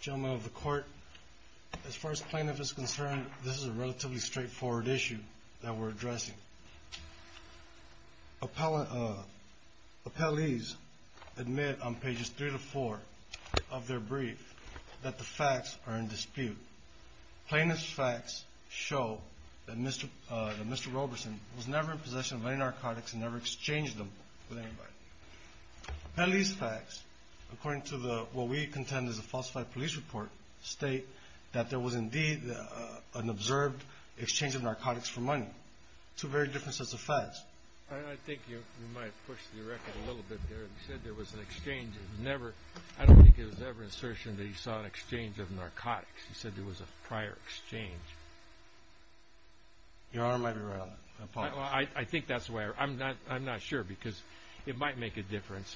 Gentlemen of the court, as far as plaintiff is concerned, this is a relatively straightforward issue that we're addressing. Appellees admit on pages 3 to 4 of their brief that the facts are in dispute. Plaintiff's facts show that Mr. Roberson was never in possession of any narcotics and never exchanged them with anybody. Appellees' facts, according to what we contend is a falsified police report, state that there was indeed an observed exchange of narcotics for money. Two very different sets of facts. I think you might have pushed the record a little bit there. You said there was an exchange. I don't think there was ever an assertion that you saw an exchange of narcotics. You said there was a prior exchange. Your Honor might be right on that. I'm not sure because it might make a difference,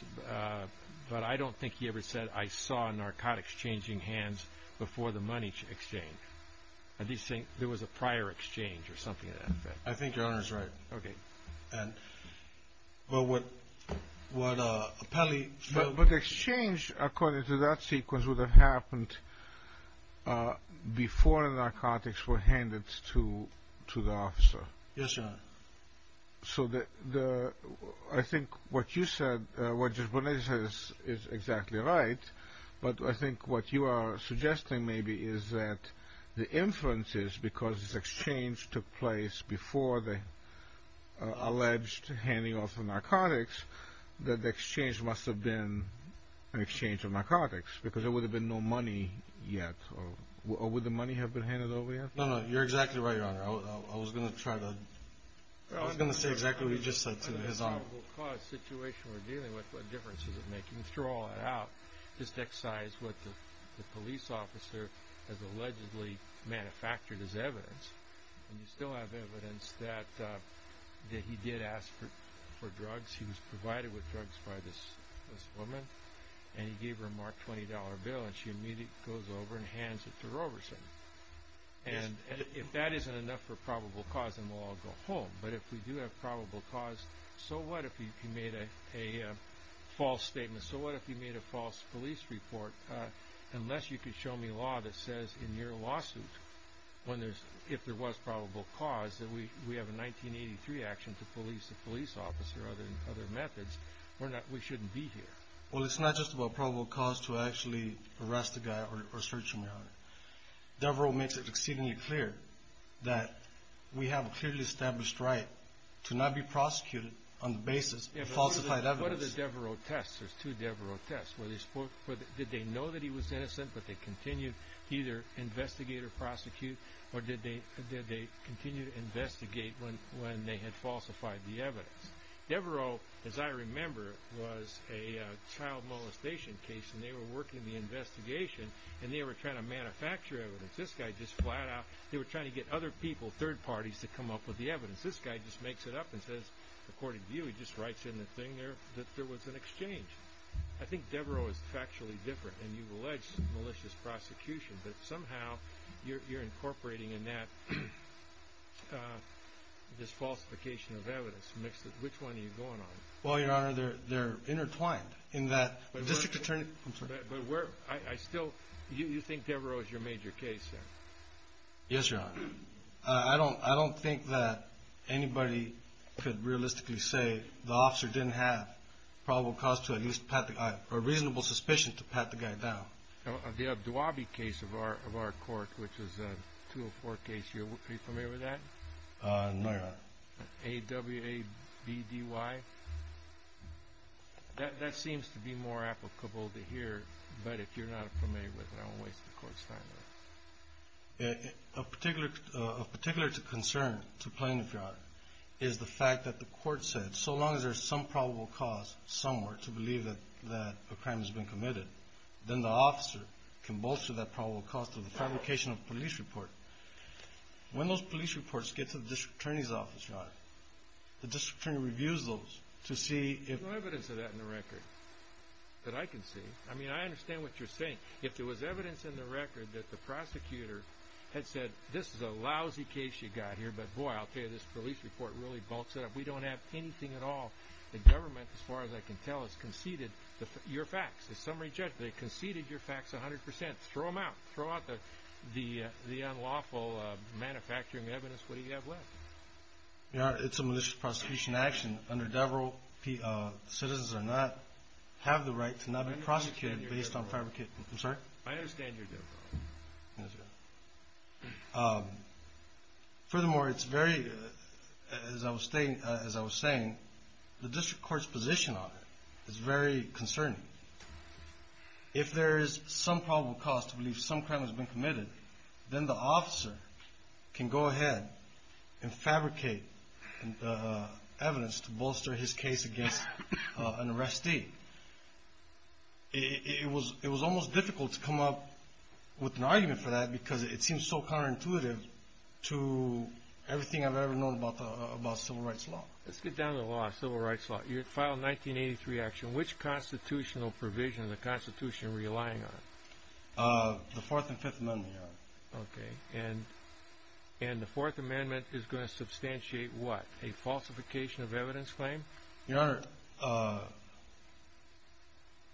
but I don't think he ever said, I saw narcotics changing hands before the money exchange. I think your Honor is right. But the exchange, according to that sequence, would have happened before the narcotics were handed to the officer. I think what you said is exactly right, but I think what you are suggesting maybe is that the inferences, because this exchange took place before the alleged handing off of narcotics, that the exchange must have been an exchange of narcotics, because there would have been no money yet. Or would the money have been handed over yet? No, no. You're exactly right, your Honor. I was going to say exactly what you just said to his Honor. In the probable cause situation we're dealing with, what difference does it make? You can throw all that out. Just excise what the police officer has allegedly manufactured as evidence, and you still have evidence that he did ask for drugs. He was provided with drugs by this woman, and he gave her a marked $20 bill, and she immediately goes over and hands it to Roberson. If that isn't enough for probable cause, then we'll all go home. But if we do have probable cause, so what if he made a false statement? So what if he made a false police report? Unless you could show me law that says in your lawsuit, if there was probable cause, that we have a 1983 action to police the police officer, other than other methods, we shouldn't be here. Well, it's not just about probable cause to actually arrest the guy or search him, your Honor. Devereaux makes it exceedingly clear that we have a clearly established right to not be prosecuted on the basis of falsified evidence. What are the Devereaux tests? There's two Devereaux tests. Did they know that he was innocent, but they continued to either investigate or prosecute, or did they continue to investigate when they had falsified the evidence? Devereaux, as I remember, was a child molestation case, and they were working the investigation, and they were trying to manufacture evidence. This guy just flat out, they were trying to get other people, third parties, to come up with the evidence. This guy just makes it up and says, according to you, he just writes in the thing there that there was an exchange. I think Devereaux is factually different, and you've alleged malicious prosecution, but somehow you're incorporating in that this falsification of evidence. Which one are you going on? Well, your Honor, they're intertwined. You think Devereaux is your major case, sir? Yes, your Honor. I don't think that anybody could realistically say the officer didn't have probable cause to at least pat the guy, or reasonable suspicion to pat the guy down. The Abduwabi case of our court, which is a 204 case, are you familiar with that? No, your Honor. A-W-A-B-D-Y? That seems to be more applicable to here, but if you're not familiar with it, I won't waste the Court's time with it. Of particular concern to plaintiff, your Honor, is the fact that the Court said so long as there's some probable cause somewhere to believe that a crime has been committed, then the officer can bolster that probable cause through the fabrication of a police report. When those police reports get to the district attorney's office, your Honor, the district attorney reviews those to see if- There's no evidence of that in the record that I can see. I mean, I understand what you're saying. If there was evidence in the record that the prosecutor had said, this is a lousy case you've got here, but boy, I'll tell you, this police report really bulks it up. We don't have anything at all. The government, as far as I can tell, has conceded your facts. The summary judge, they conceded your facts 100%. Throw them out. Throw out the unlawful manufacturing evidence. What do you have left? Your Honor, it's a malicious prosecution action. Under Devereux, citizens do not have the right to not be prosecuted based on fabrication. Furthermore, it's very, as I was saying, the district court's position on it is very concerning. If there is some probable cause to believe some crime has been committed, then the officer can go ahead and file a police report. He can fabricate evidence to bolster his case against an arrestee. It was almost difficult to come up with an argument for that because it seems so counterintuitive to everything I've ever known about civil rights law. Let's get down to the law, civil rights law. You filed 1983 action. Which constitutional provision is the Constitution relying on? The Fourth and Fifth Amendment, Your Honor. Okay. And the Fourth Amendment is going to substantiate what? A falsification of evidence claim? Your Honor,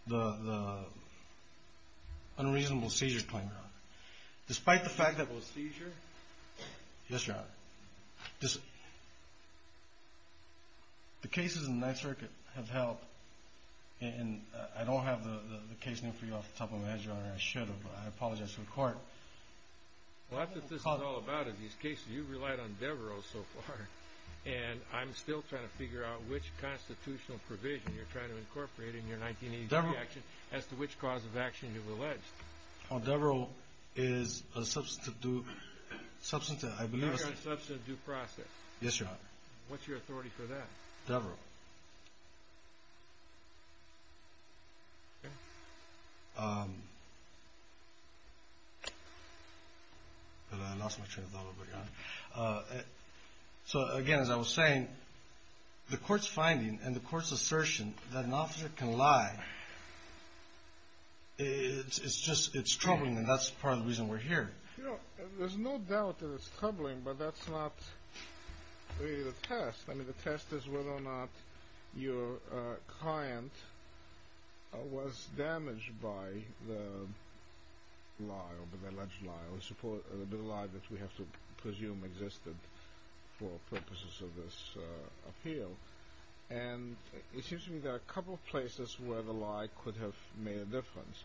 the unreasonable seizure claim, Your Honor. Despite the fact that it was a seizure? Yes, Your Honor. The cases in the Ninth Circuit have helped, and I don't have the case name for you off the top of my head, Your Honor. I should have, but I apologize to the court. Well, that's what this is all about, is these cases. You've relied on Devereaux so far, and I'm still trying to figure out which constitutional provision you're trying to incorporate in your 1983 action as to which cause of action you've alleged. Well, Devereaux is a substantive due process. Yes, Your Honor. What's your authority for that? Devereaux. I lost my train of thought a little bit, Your Honor. So, again, as I was saying, the court's finding and the court's assertion that an officer can lie, it's troubling, and that's part of the reason we're here. You know, there's no doubt that it's troubling, but that's not really the test. I mean, the test is whether or not your client was damaged by the lie or the alleged lie or the bit of lie that we have to presume existed for purposes of this appeal. And it seems to me there are a couple of places where the lie could have made a difference.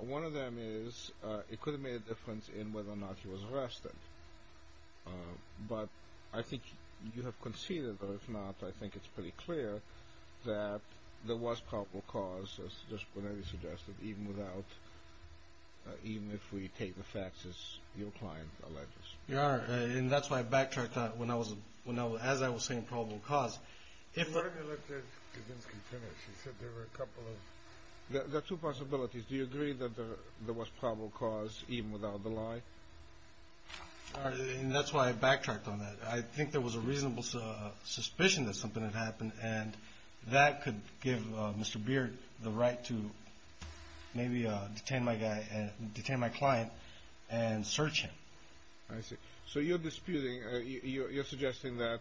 One of them is it could have made a difference in whether or not he was arrested. But I think you have conceded, or if not, I think it's pretty clear that there was probable cause, as Justice Bonetti suggested, even if we take the facts as your client alleges. Your Honor, and that's why I backtracked on it as I was saying probable cause. Why don't you let Kavinsky finish? He said there were a couple of – there are two possibilities. Do you agree that there was probable cause even without the lie? And that's why I backtracked on that. I think there was a reasonable suspicion that something had happened, and that could give Mr. Beard the right to maybe detain my client and search him. I see. So you're disputing – you're suggesting that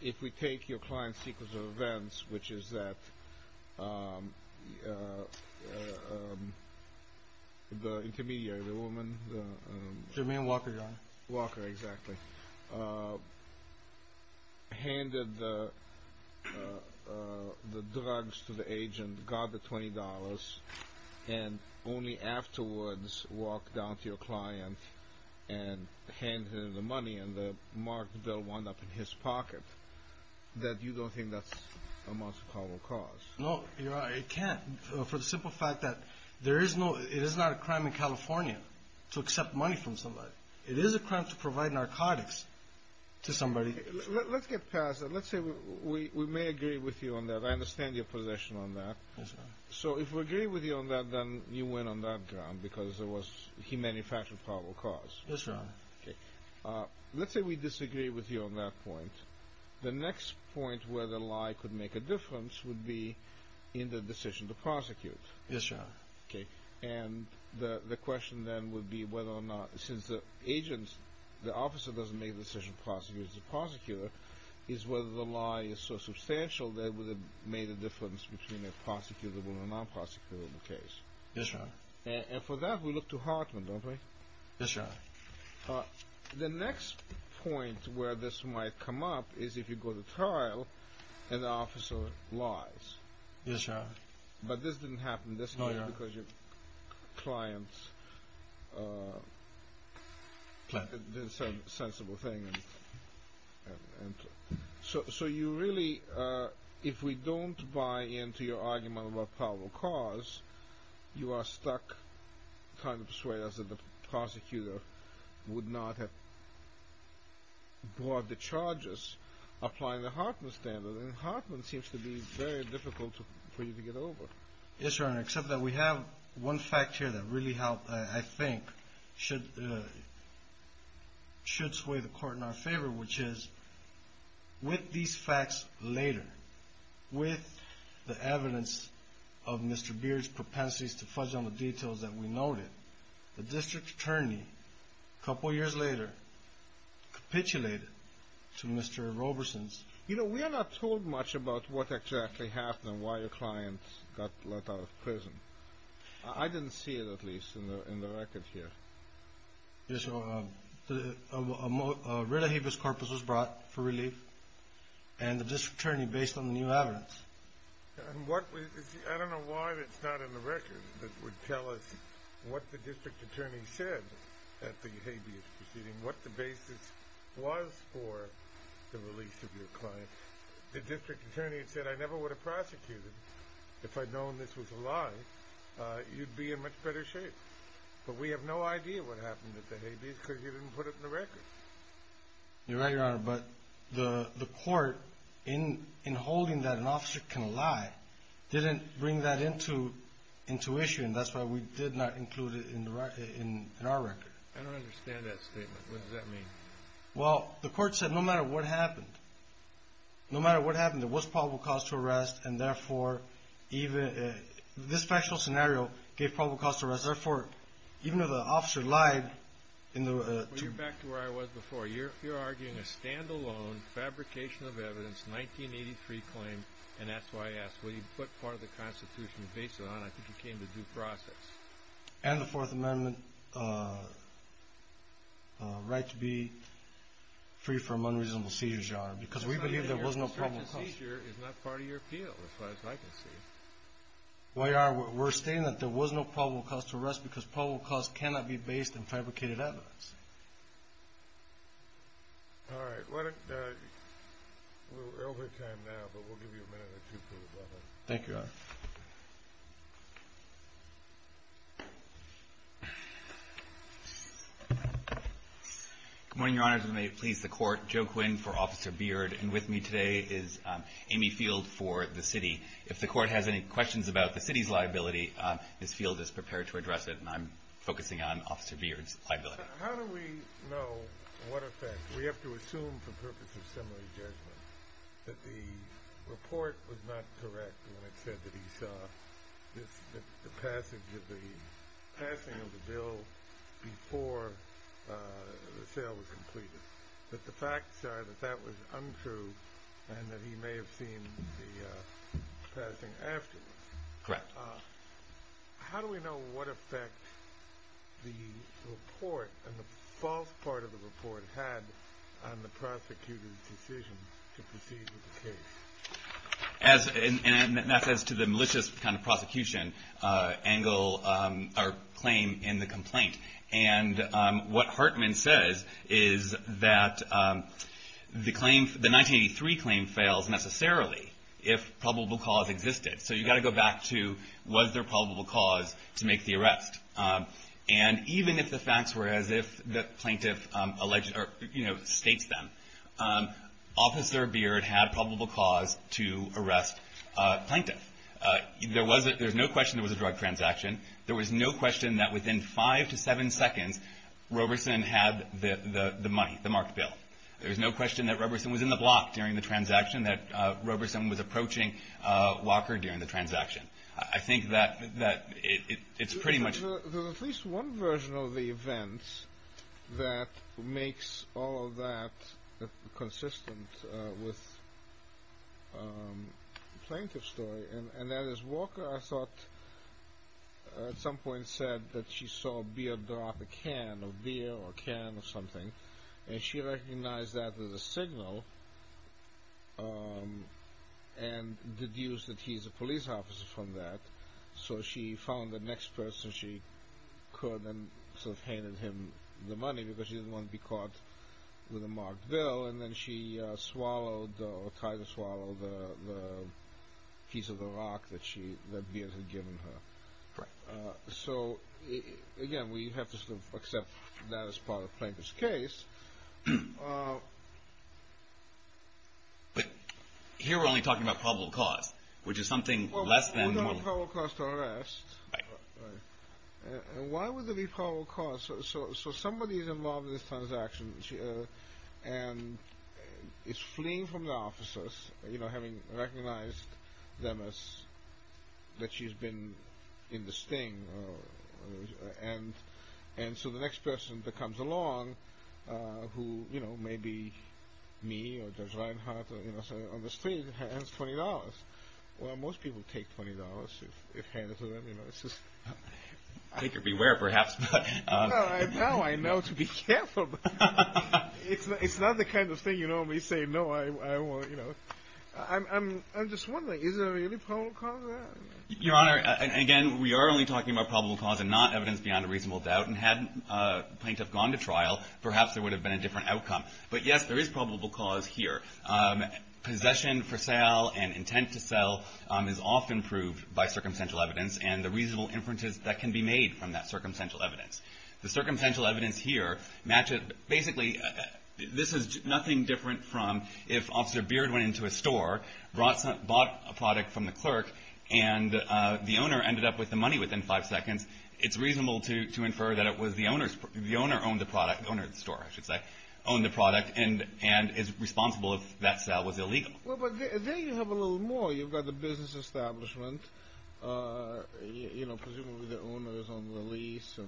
if we take your client's sequence of events, which is that the intermediary, the woman – Germaine Walker, Your Honor. handed the drugs to the agent, got the $20, and only afterwards walked down to your client and handed him the money, and the marked bill wound up in his pocket, that you don't think that's a most probable cause? No, Your Honor, it can't, for the simple fact that there is no – it is not a crime in California to accept money from somebody. It is a crime to provide narcotics to somebody. Let's get past that. Let's say we may agree with you on that. I understand your position on that. Yes, Your Honor. So if we agree with you on that, then you win on that ground, because there was – he manufactured probable cause. Yes, Your Honor. Okay. Let's say we disagree with you on that point. The next point where the lie could make a difference would be in the decision to prosecute. Yes, Your Honor. Okay. And the question then would be whether or not – since the agent – the officer doesn't make the decision to prosecute as a prosecutor, is whether the lie is so substantial that it would have made a difference between a prosecutable and a non-prosecutable case. Yes, Your Honor. And for that, we look to Hartman, don't we? Yes, Your Honor. The next point where this might come up is if you go to trial and the officer lies. Yes, Your Honor. But this didn't happen, did it? No, Your Honor. So you really – if we don't buy into your argument about probable cause, you are stuck trying to persuade us that the prosecutor would not have brought the charges, applying the Hartman standard. And Hartman seems to be very difficult for you to get over. Yes, Your Honor, except that we have one fact here that really helped, I think, should sway the court in our favor, which is with these facts later, with the evidence of Mr. Beard's propensities to fudge on the details that we noted, the district attorney, a couple years later, capitulated to Mr. Roberson's – You know, we are not told much about what exactly happened and why your client got let out of prison. I didn't see it, at least, in the record here. Yes, Your Honor. You're right, Your Honor, but the court, in holding that an officer can lie, didn't bring that into issue, and that's why we did not include it in our record. I don't understand that statement. What does that mean? Well, the court said no matter what happened, no matter what happened, there was probable cause to arrest, and therefore, even – this factual scenario gave probable cause to arrest, therefore, even though the officer lied in the – Well, you're back to where I was before. You're arguing a stand-alone fabrication of evidence, 1983 claim, an S.Y.S., where you put part of the Constitution. Based on that, I think you came to due process. And the Fourth Amendment right to be free from unreasonable seizures, Your Honor, because we believe there was no probable cause – Your search and seizure is not part of your appeal, as far as I can see. Well, Your Honor, we're stating that there was no probable cause to arrest because probable cause cannot be based in fabricated evidence. All right. We're over time now, but we'll give you a minute or two for rebuttal. Thank you, Your Honor. Good morning, Your Honor. If it may please the court, Joe Quinn for Officer Beard, and with me today is Amy Field for the city. If the court has any questions about the city's liability, Ms. Field is prepared to address it, and I'm focusing on Officer Beard's liability. How do we know what effect – we have to assume for purposes of similar judgment that the report was not correct when it said that he saw the passing of the bill before the sale was completed, but the facts are that that was untrue and that he may have seen the passing afterwards. Correct. How do we know what effect the report and the false part of the report had on the prosecutor's decision to proceed with the case? And that's as to the malicious kind of prosecution angle or claim in the complaint. And what Hartman says is that the 1983 claim fails necessarily if probable cause existed. So you've got to go back to was there probable cause to make the arrest. And even if the facts were as if the plaintiff alleged or, you know, states them, Officer Beard had probable cause to arrest a plaintiff. There was – there's no question there was a drug transaction. There was no question that within five to seven seconds, Roberson had the money, the marked bill. There was no question that Roberson was in the block during the transaction, that Roberson was approaching Walker during the transaction. I think that it's pretty much – There's at least one version of the events that makes all of that consistent with the plaintiff's story, and that is Walker, I thought, at some point said that she saw Beard drop a can of beer or a can of something, and she recognized that as a signal and deduced that he's a police officer from that. So she found the next person she could and sort of handed him the money because she didn't want to be caught with a marked bill. And then she swallowed or tried to swallow the piece of the rock that Beard had given her. Right. So, again, we have to sort of accept that as part of the plaintiff's case. But here we're only talking about probable cause, which is something less than the money. Well, without probable cause to arrest. Right. And why would there be probable cause? So somebody is involved in this transaction, and is fleeing from the officers, having recognized them as – that she's been in the sting. And so the next person that comes along, who may be me or Judge Reinhart on the street, hands $20. Well, most people take $20 if handed to them. Take or beware, perhaps. Now I know to be careful. It's not the kind of thing you normally say, no, I won't. I'm just wondering, is there really probable cause? Your Honor, again, we are only talking about probable cause and not evidence beyond a reasonable doubt. And had the plaintiff gone to trial, perhaps there would have been a different outcome. But, yes, there is probable cause here. Possession for sale and intent to sell is often proved by circumstantial evidence. And the reasonable inferences that can be made from that circumstantial evidence. The circumstantial evidence here matches – basically, this is nothing different from if Officer Beard went into a store, bought a product from the clerk, and the owner ended up with the money within five seconds. It's reasonable to infer that it was the owner's – the owner owned the product – the owner of the store, I should say – owned the product and is responsible if that sale was illegal. Well, but there you have a little more. You've got the business establishment, you know, presumably the owner is on the lease.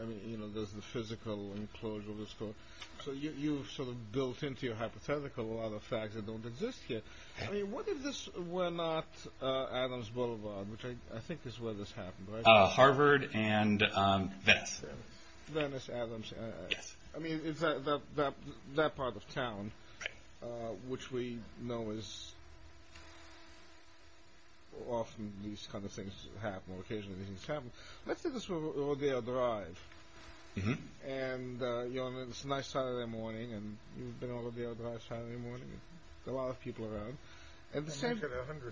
I mean, you know, there's the physical enclosure of the store. So you've sort of built into your hypothetical a lot of facts that don't exist here. I mean, what if this were not Adams Boulevard, which I think is where this happened, right? Oh, Harvard and Venice. Venice, Adams. I mean, it's that part of town, which we know is – often these kind of things happen, occasionally these things happen. Let's say this were Odell Drive. And, you know, it's a nice Saturday morning, and you've been to Odell Drive Saturday morning. There's a lot of people around. And you get a $100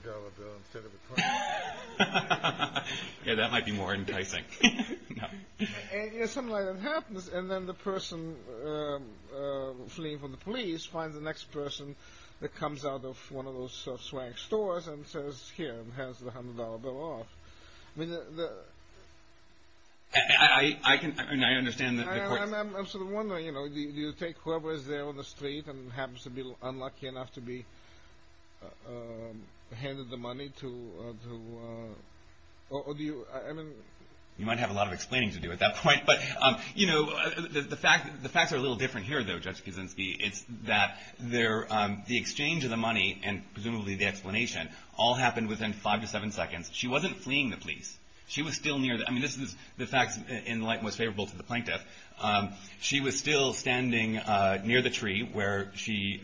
bill instead of a $20. Yeah, that might be more enticing. Yeah, something like that happens. And then the person fleeing from the police finds the next person that comes out of one of those swanky stores and says, here, and has the $100 bill off. I mean, the – I can – I mean, I understand the point. I'm sort of wondering, you know, do you take whoever is there on the street and happens to be unlucky enough to be handed the money to – You might have a lot of explaining to do at that point. But, you know, the facts are a little different here, though, Judge Kuczynski. It's that the exchange of the money and presumably the explanation all happened within five to seven seconds. She wasn't fleeing the police. She was still near – I mean, this is the facts in light most favorable to the plaintiff. She was still standing near the tree where she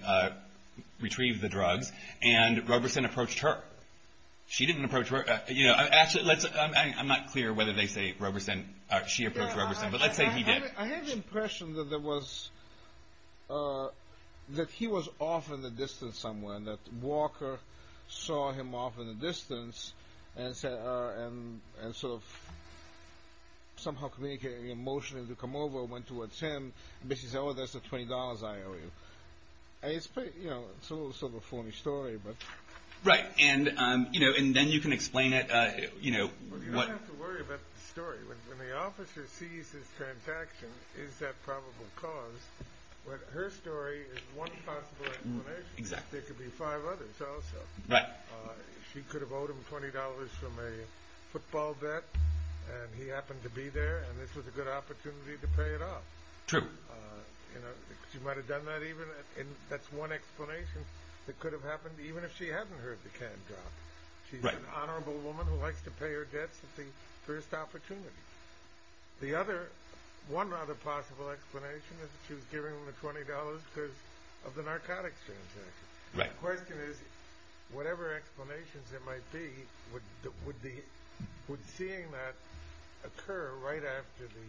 retrieved the drugs, and Roberson approached her. She didn't approach Roberson. Actually, I'm not clear whether they say Roberson – she approached Roberson, but let's say he did. I have the impression that there was – that he was off in the distance somewhere, and that Walker saw him off in the distance and sort of somehow communicating emotionally to come over and went towards him, and basically said, oh, that's the $20 I owe you. It's a little sort of a phony story, but – Right, and then you can explain it. Well, you don't have to worry about the story. When the officer sees his transaction, is that probable cause? But her story is one possible explanation. There could be five others also. She could have owed him $20 from a football bet, and he happened to be there, and this was a good opportunity to pay it off. True. She might have done that even – that's one explanation that could have happened even if she hadn't heard the can drop. She's an honorable woman who likes to pay her debts at the first opportunity. The other – one other possible explanation is that she was giving him the $20 because of the narcotics transaction. The question is, whatever explanations there might be, would seeing that occur right after the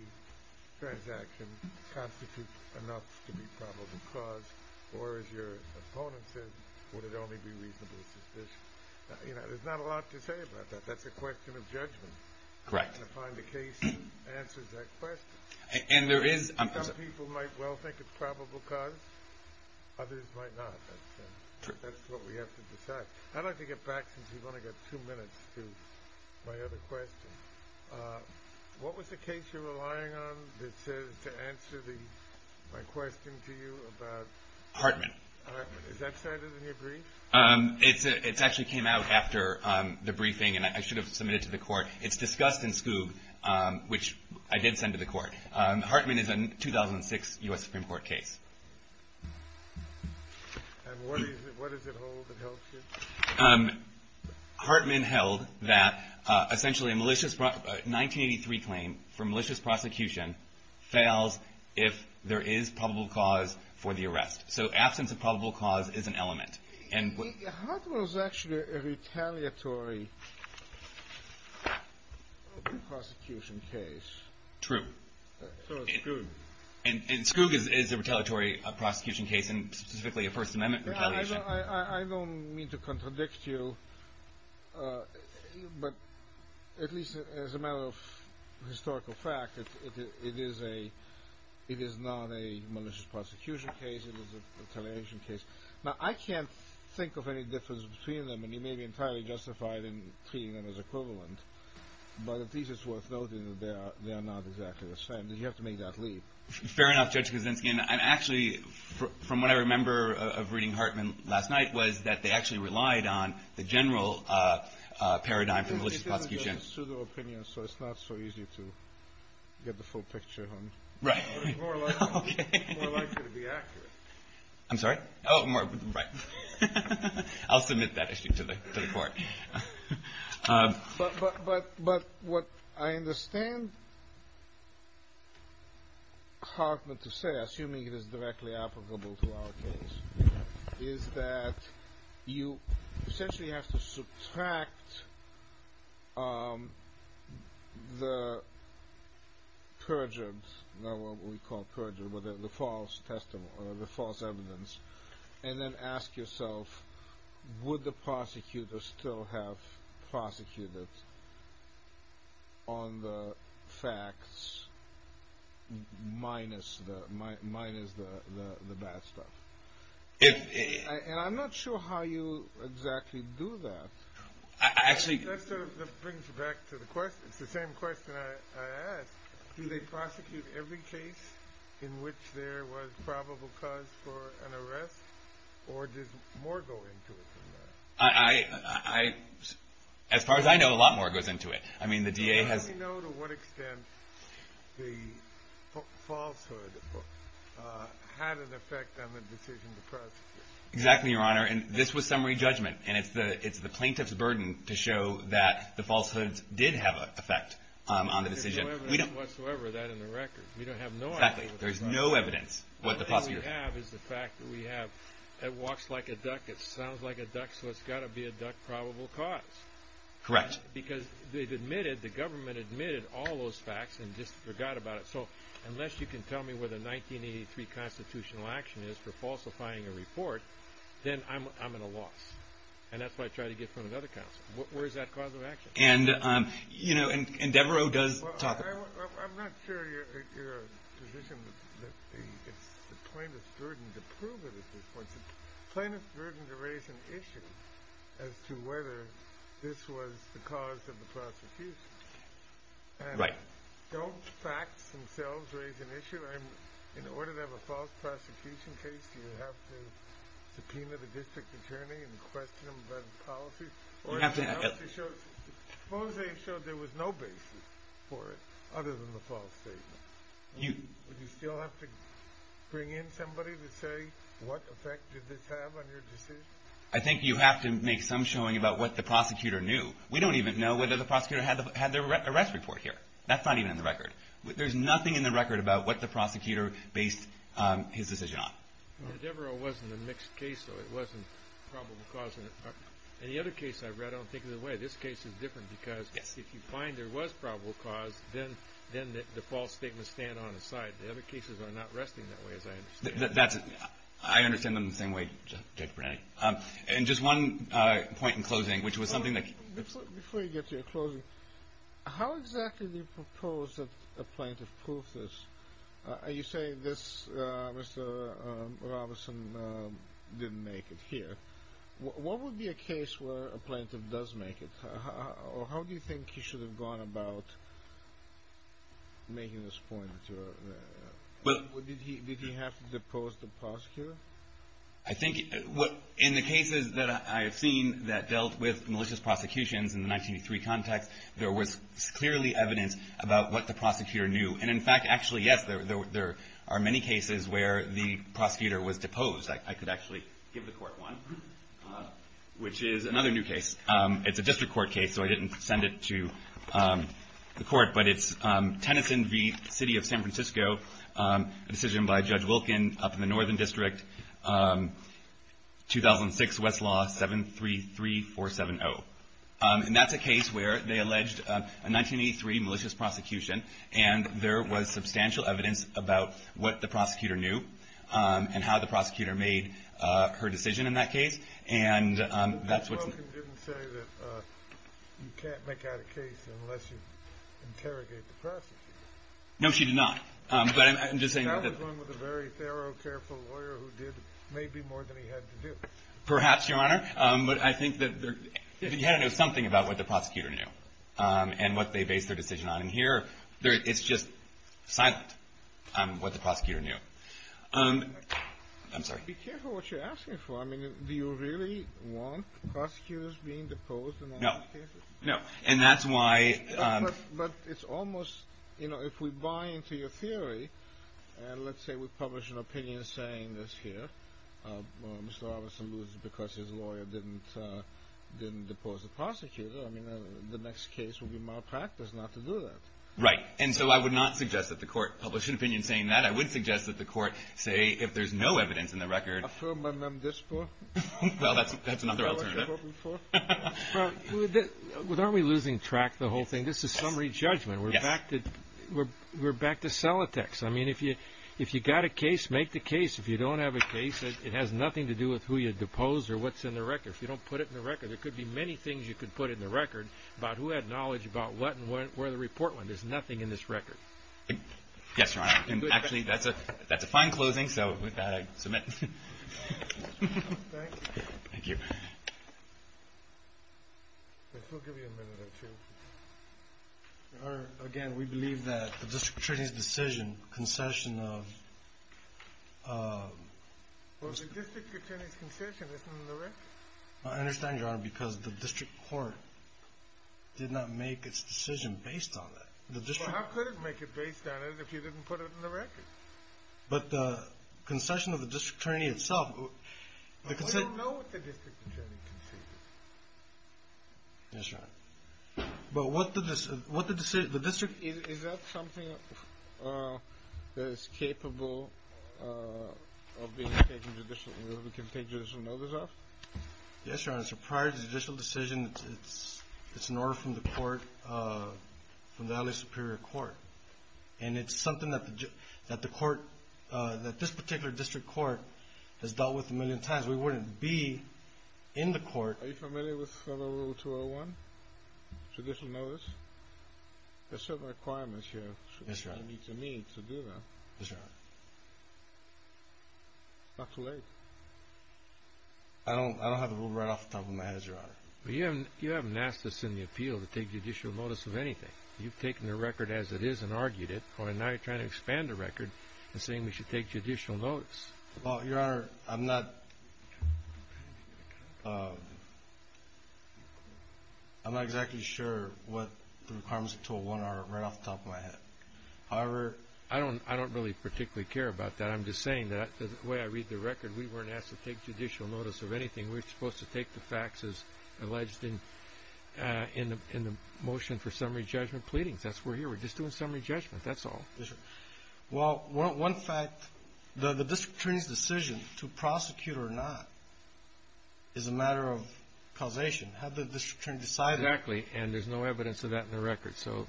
transaction constitute enough to be probable cause, or as your opponent said, would it only be reasonable suspicion? There's not a lot to say about that. That's a question of judgment. Correct. And to find a case that answers that question. And there is – Some people might well think it's probable cause. Others might not. That's what we have to decide. I'd like to get back, since we've only got two minutes, to my other question. What was the case you're relying on that says to answer my question to you about – Hartman. Hartman. Is that cited in your brief? It actually came out after the briefing, and I should have submitted it to the court. It's discussed in Skoog, which I did send to the court. Hartman is a 2006 U.S. Supreme Court case. And what does it hold that helps you? Hartman held that essentially a 1983 claim for malicious prosecution fails if there is probable cause for the arrest. So absence of probable cause is an element. Hartman was actually a retaliatory prosecution case. True. So was Skoog. And Skoog is a retaliatory prosecution case, and specifically a First Amendment retaliation. I don't mean to contradict you, but at least as a matter of historical fact, it is not a malicious prosecution case. It is a retaliation case. Now, I can't think of any difference between them, and you may be entirely justified in treating them as equivalent. But at least it's worth noting that they are not exactly the same. You have to make that leap. Fair enough, Judge Kuczynski. And actually, from what I remember of reading Hartman last night was that they actually relied on the general paradigm for malicious prosecution. Well, it's a pseudo-opinion, so it's not so easy to get the full picture. Right. More likely to be accurate. I'm sorry? Oh, right. I'll submit that issue to the court. But what I understand Hartman to say, assuming it is directly applicable to our case, is that you essentially have to subtract the perjured, not what we call perjured, but the false evidence, and then ask yourself, would the prosecutor still have prosecuted on the facts minus the bad stuff? And I'm not sure how you exactly do that. That brings me back to the question. It's the same question I asked. Do they prosecute every case in which there was probable cause for an arrest, or does more go into it than that? As far as I know, a lot more goes into it. I mean, the DA has – How do you know to what extent the falsehood had an effect on the decision to prosecute? Exactly, Your Honor. And this was summary judgment, and it's the plaintiff's burden to show that the falsehoods did have an effect on the decision. There's no evidence whatsoever of that in the record. We don't have no evidence. Exactly. There's no evidence. All we have is the fact that we have, it walks like a duck, it sounds like a duck, so it's got to be a duck probable cause. Correct. Because they've admitted, the government admitted all those facts and just forgot about it. So unless you can tell me where the 1983 constitutional action is for falsifying a report, then I'm at a loss. And that's what I try to get from another counsel. Where is that cause of action? And, you know, and Devereux does talk about it. I'm not sure your position is that it's the plaintiff's burden to prove it at this point. It's the plaintiff's burden to raise an issue as to whether this was the cause of the prosecution. Right. Don't facts themselves raise an issue? In order to have a false prosecution case, do you have to subpoena the district attorney and question them about the policy? Or do you have to show, suppose they showed there was no basis for it other than the false statement. Would you still have to bring in somebody to say what effect did this have on your decision? I think you have to make some showing about what the prosecutor knew. We don't even know whether the prosecutor had their arrest report here. That's not even in the record. There's nothing in the record about what the prosecutor based his decision on. Devereux wasn't a mixed case, though. It wasn't probable cause. In the other case I read, I don't think of it that way. This case is different because if you find there was probable cause, then the false statements stand on its side. The other cases are not resting that way, as I understand it. I understand them the same way, Judge Brennan. And just one point in closing, which was something that – Before you get to your closing, how exactly do you propose that a plaintiff prove this? You say this Mr. Robinson didn't make it here. What would be a case where a plaintiff does make it? Or how do you think he should have gone about making this point? Did he have to depose the prosecutor? I think in the cases that I have seen that dealt with malicious prosecutions in the 1983 context, there was clearly evidence about what the prosecutor knew. And in fact, actually, yes, there are many cases where the prosecutor was deposed. I could actually give the court one, which is another new case. It's a district court case, so I didn't send it to the court, but it's Tennyson v. City of San Francisco, a decision by Judge Wilkin up in the northern district, 2006 Westlaw 733470. And that's a case where they alleged a 1983 malicious prosecution, and there was substantial evidence about what the prosecutor knew and how the prosecutor made her decision in that case. Judge Wilkin didn't say that you can't make out a case unless you interrogate the prosecutor. No, she did not. That was one with a very thorough, careful lawyer who did maybe more than he had to do. Perhaps, Your Honor. But I think that you have to know something about what the prosecutor knew and what they based their decision on. And here, it's just silent, what the prosecutor knew. Be careful what you're asking for. I mean, do you really want prosecutors being deposed in all these cases? No. But it's almost, you know, if we buy into your theory, and let's say we publish an opinion saying this here, Mr. Robinson loses because his lawyer didn't depose the prosecutor, I mean, the next case would be malpractice not to do that. Right. And so I would not suggest that the court publish an opinion saying that. I would suggest that the court say if there's no evidence in the record. Affirmative. Well, that's another alternative. Well, aren't we losing track of the whole thing? This is summary judgment. Yes. We're back to sellotex. I mean, if you got a case, make the case. If you don't have a case, it has nothing to do with who you deposed or what's in the record. If you don't put it in the record, there could be many things you could put in the record about who had knowledge about what and where the report went. There's nothing in this record. Yes, Your Honor. Actually, that's a fine closing. So with that, I submit. Thank you. Judge, we'll give you a minute or two. Your Honor, again, we believe that the district attorney's decision, concession of... Well, the district attorney's concession isn't in the record. I understand, Your Honor, because the district court did not make its decision based on that. Well, how could it make it based on it if you didn't put it in the record? But concession of the district attorney itself... I don't know what the district attorney conceded. Yes, Your Honor. But what the district... Is that something that is capable of being taken judicially, that we can take judicial notice of? Yes, Your Honor. So prior to the judicial decision, it's an order from the court, from the LA Superior Court. And it's something that this particular district court has dealt with a million times. We wouldn't be in the court... Are you familiar with Federal Rule 201, judicial notice? There are certain requirements here... Yes, Your Honor.... that you need to meet to do that. Yes, Your Honor. It's not too late. I don't have the rule right off the top of my head, Your Honor. You haven't asked us in the appeal to take judicial notice of anything. You've taken the record as it is and argued it. And now you're trying to expand the record and saying we should take judicial notice. Well, Your Honor, I'm not... I'm not exactly sure what the requirements of 201 are right off the top of my head. However... I don't really particularly care about that. I'm just saying that the way I read the record, we weren't asked to take judicial notice of anything. We were supposed to take the facts as alleged in the motion for summary judgment pleadings. That's why we're here. We're just doing summary judgment. That's all. Well, one fact, the district attorney's decision to prosecute or not is a matter of causation. Had the district attorney decided... Exactly. And there's no evidence of that in the record. So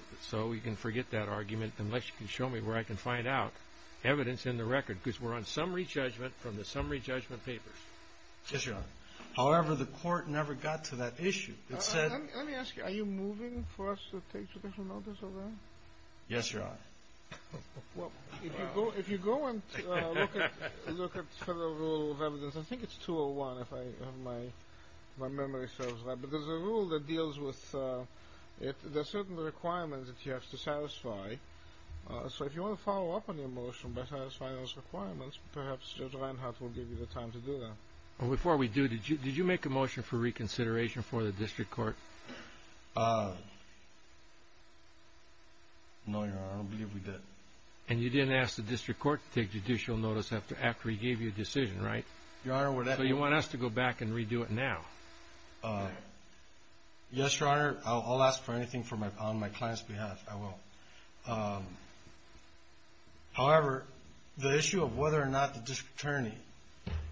we can forget that argument unless you can show me where I can find out evidence in the record. Because we're on summary judgment from the summary judgment papers. Yes, Your Honor. However, the court never got to that issue. It said... Let me ask you. Are you moving for us to take judicial notice of that? Yes, Your Honor. Well, if you go and look at Federal Rule of Evidence, I think it's 201 if I have my memory serves right. But there's a rule that deals with... There are certain requirements that you have to satisfy. So if you want to follow up on your motion by satisfying those requirements, perhaps Judge Reinhart will give you the time to do that. Well, before we do, did you make a motion for reconsideration for the district court? No, Your Honor. I don't believe we did. And you didn't ask the district court to take judicial notice after he gave you a decision, right? Your Honor, we're... So you want us to go back and redo it now? Yes, Your Honor. I'll ask for anything on my client's behalf. I will. However, the issue of whether or not the district attorney,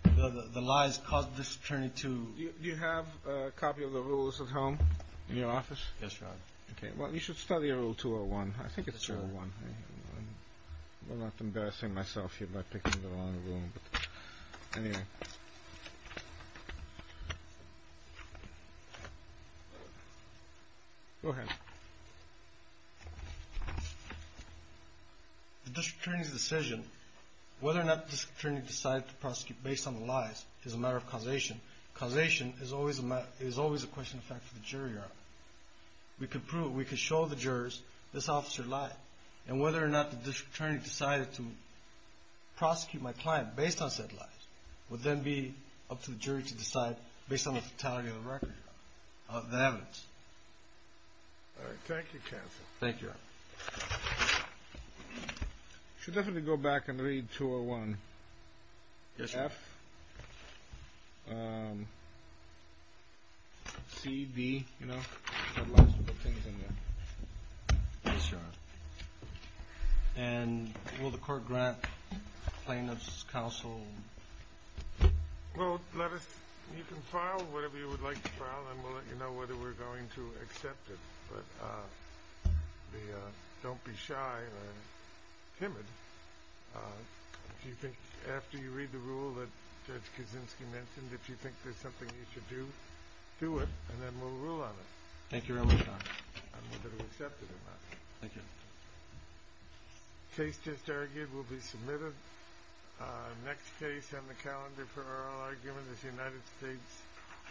the lies caused the district attorney to... Do you have a copy of the rules at home in your office? Yes, Your Honor. Okay. Well, you should study Rule 201. I think it's 201. I'm not embarrassing myself here by picking the wrong rule, but anyway. Go ahead. The district attorney's decision, whether or not the district attorney decided to prosecute based on the lies, is a matter of causation. Causation is always a question of fact for the jury, Your Honor. We could prove, we could show the jurors this officer lied, and whether or not the district attorney decided to prosecute my client based on said lies would then be up to the jury to decide based on the totality of the record, the evidence. All right. Thank you, counsel. Thank you, Your Honor. You should definitely go back and read 201. Yes, Your Honor. F, C, D, you know, a lot of things in there. Yes, Your Honor. And will the court grant plaintiff's counsel... Well, let us, you can file whatever you would like to file, and we'll let you know whether we're going to accept it. But don't be shy or timid. If you think, after you read the rule that Judge Kaczynski mentioned, if you think there's something you should do, do it, and then we'll rule on it. Thank you very much, Your Honor. On whether to accept it or not. Thank you. Case just argued will be submitted. Next case on the calendar for oral argument is United States v. Calderon-Segura.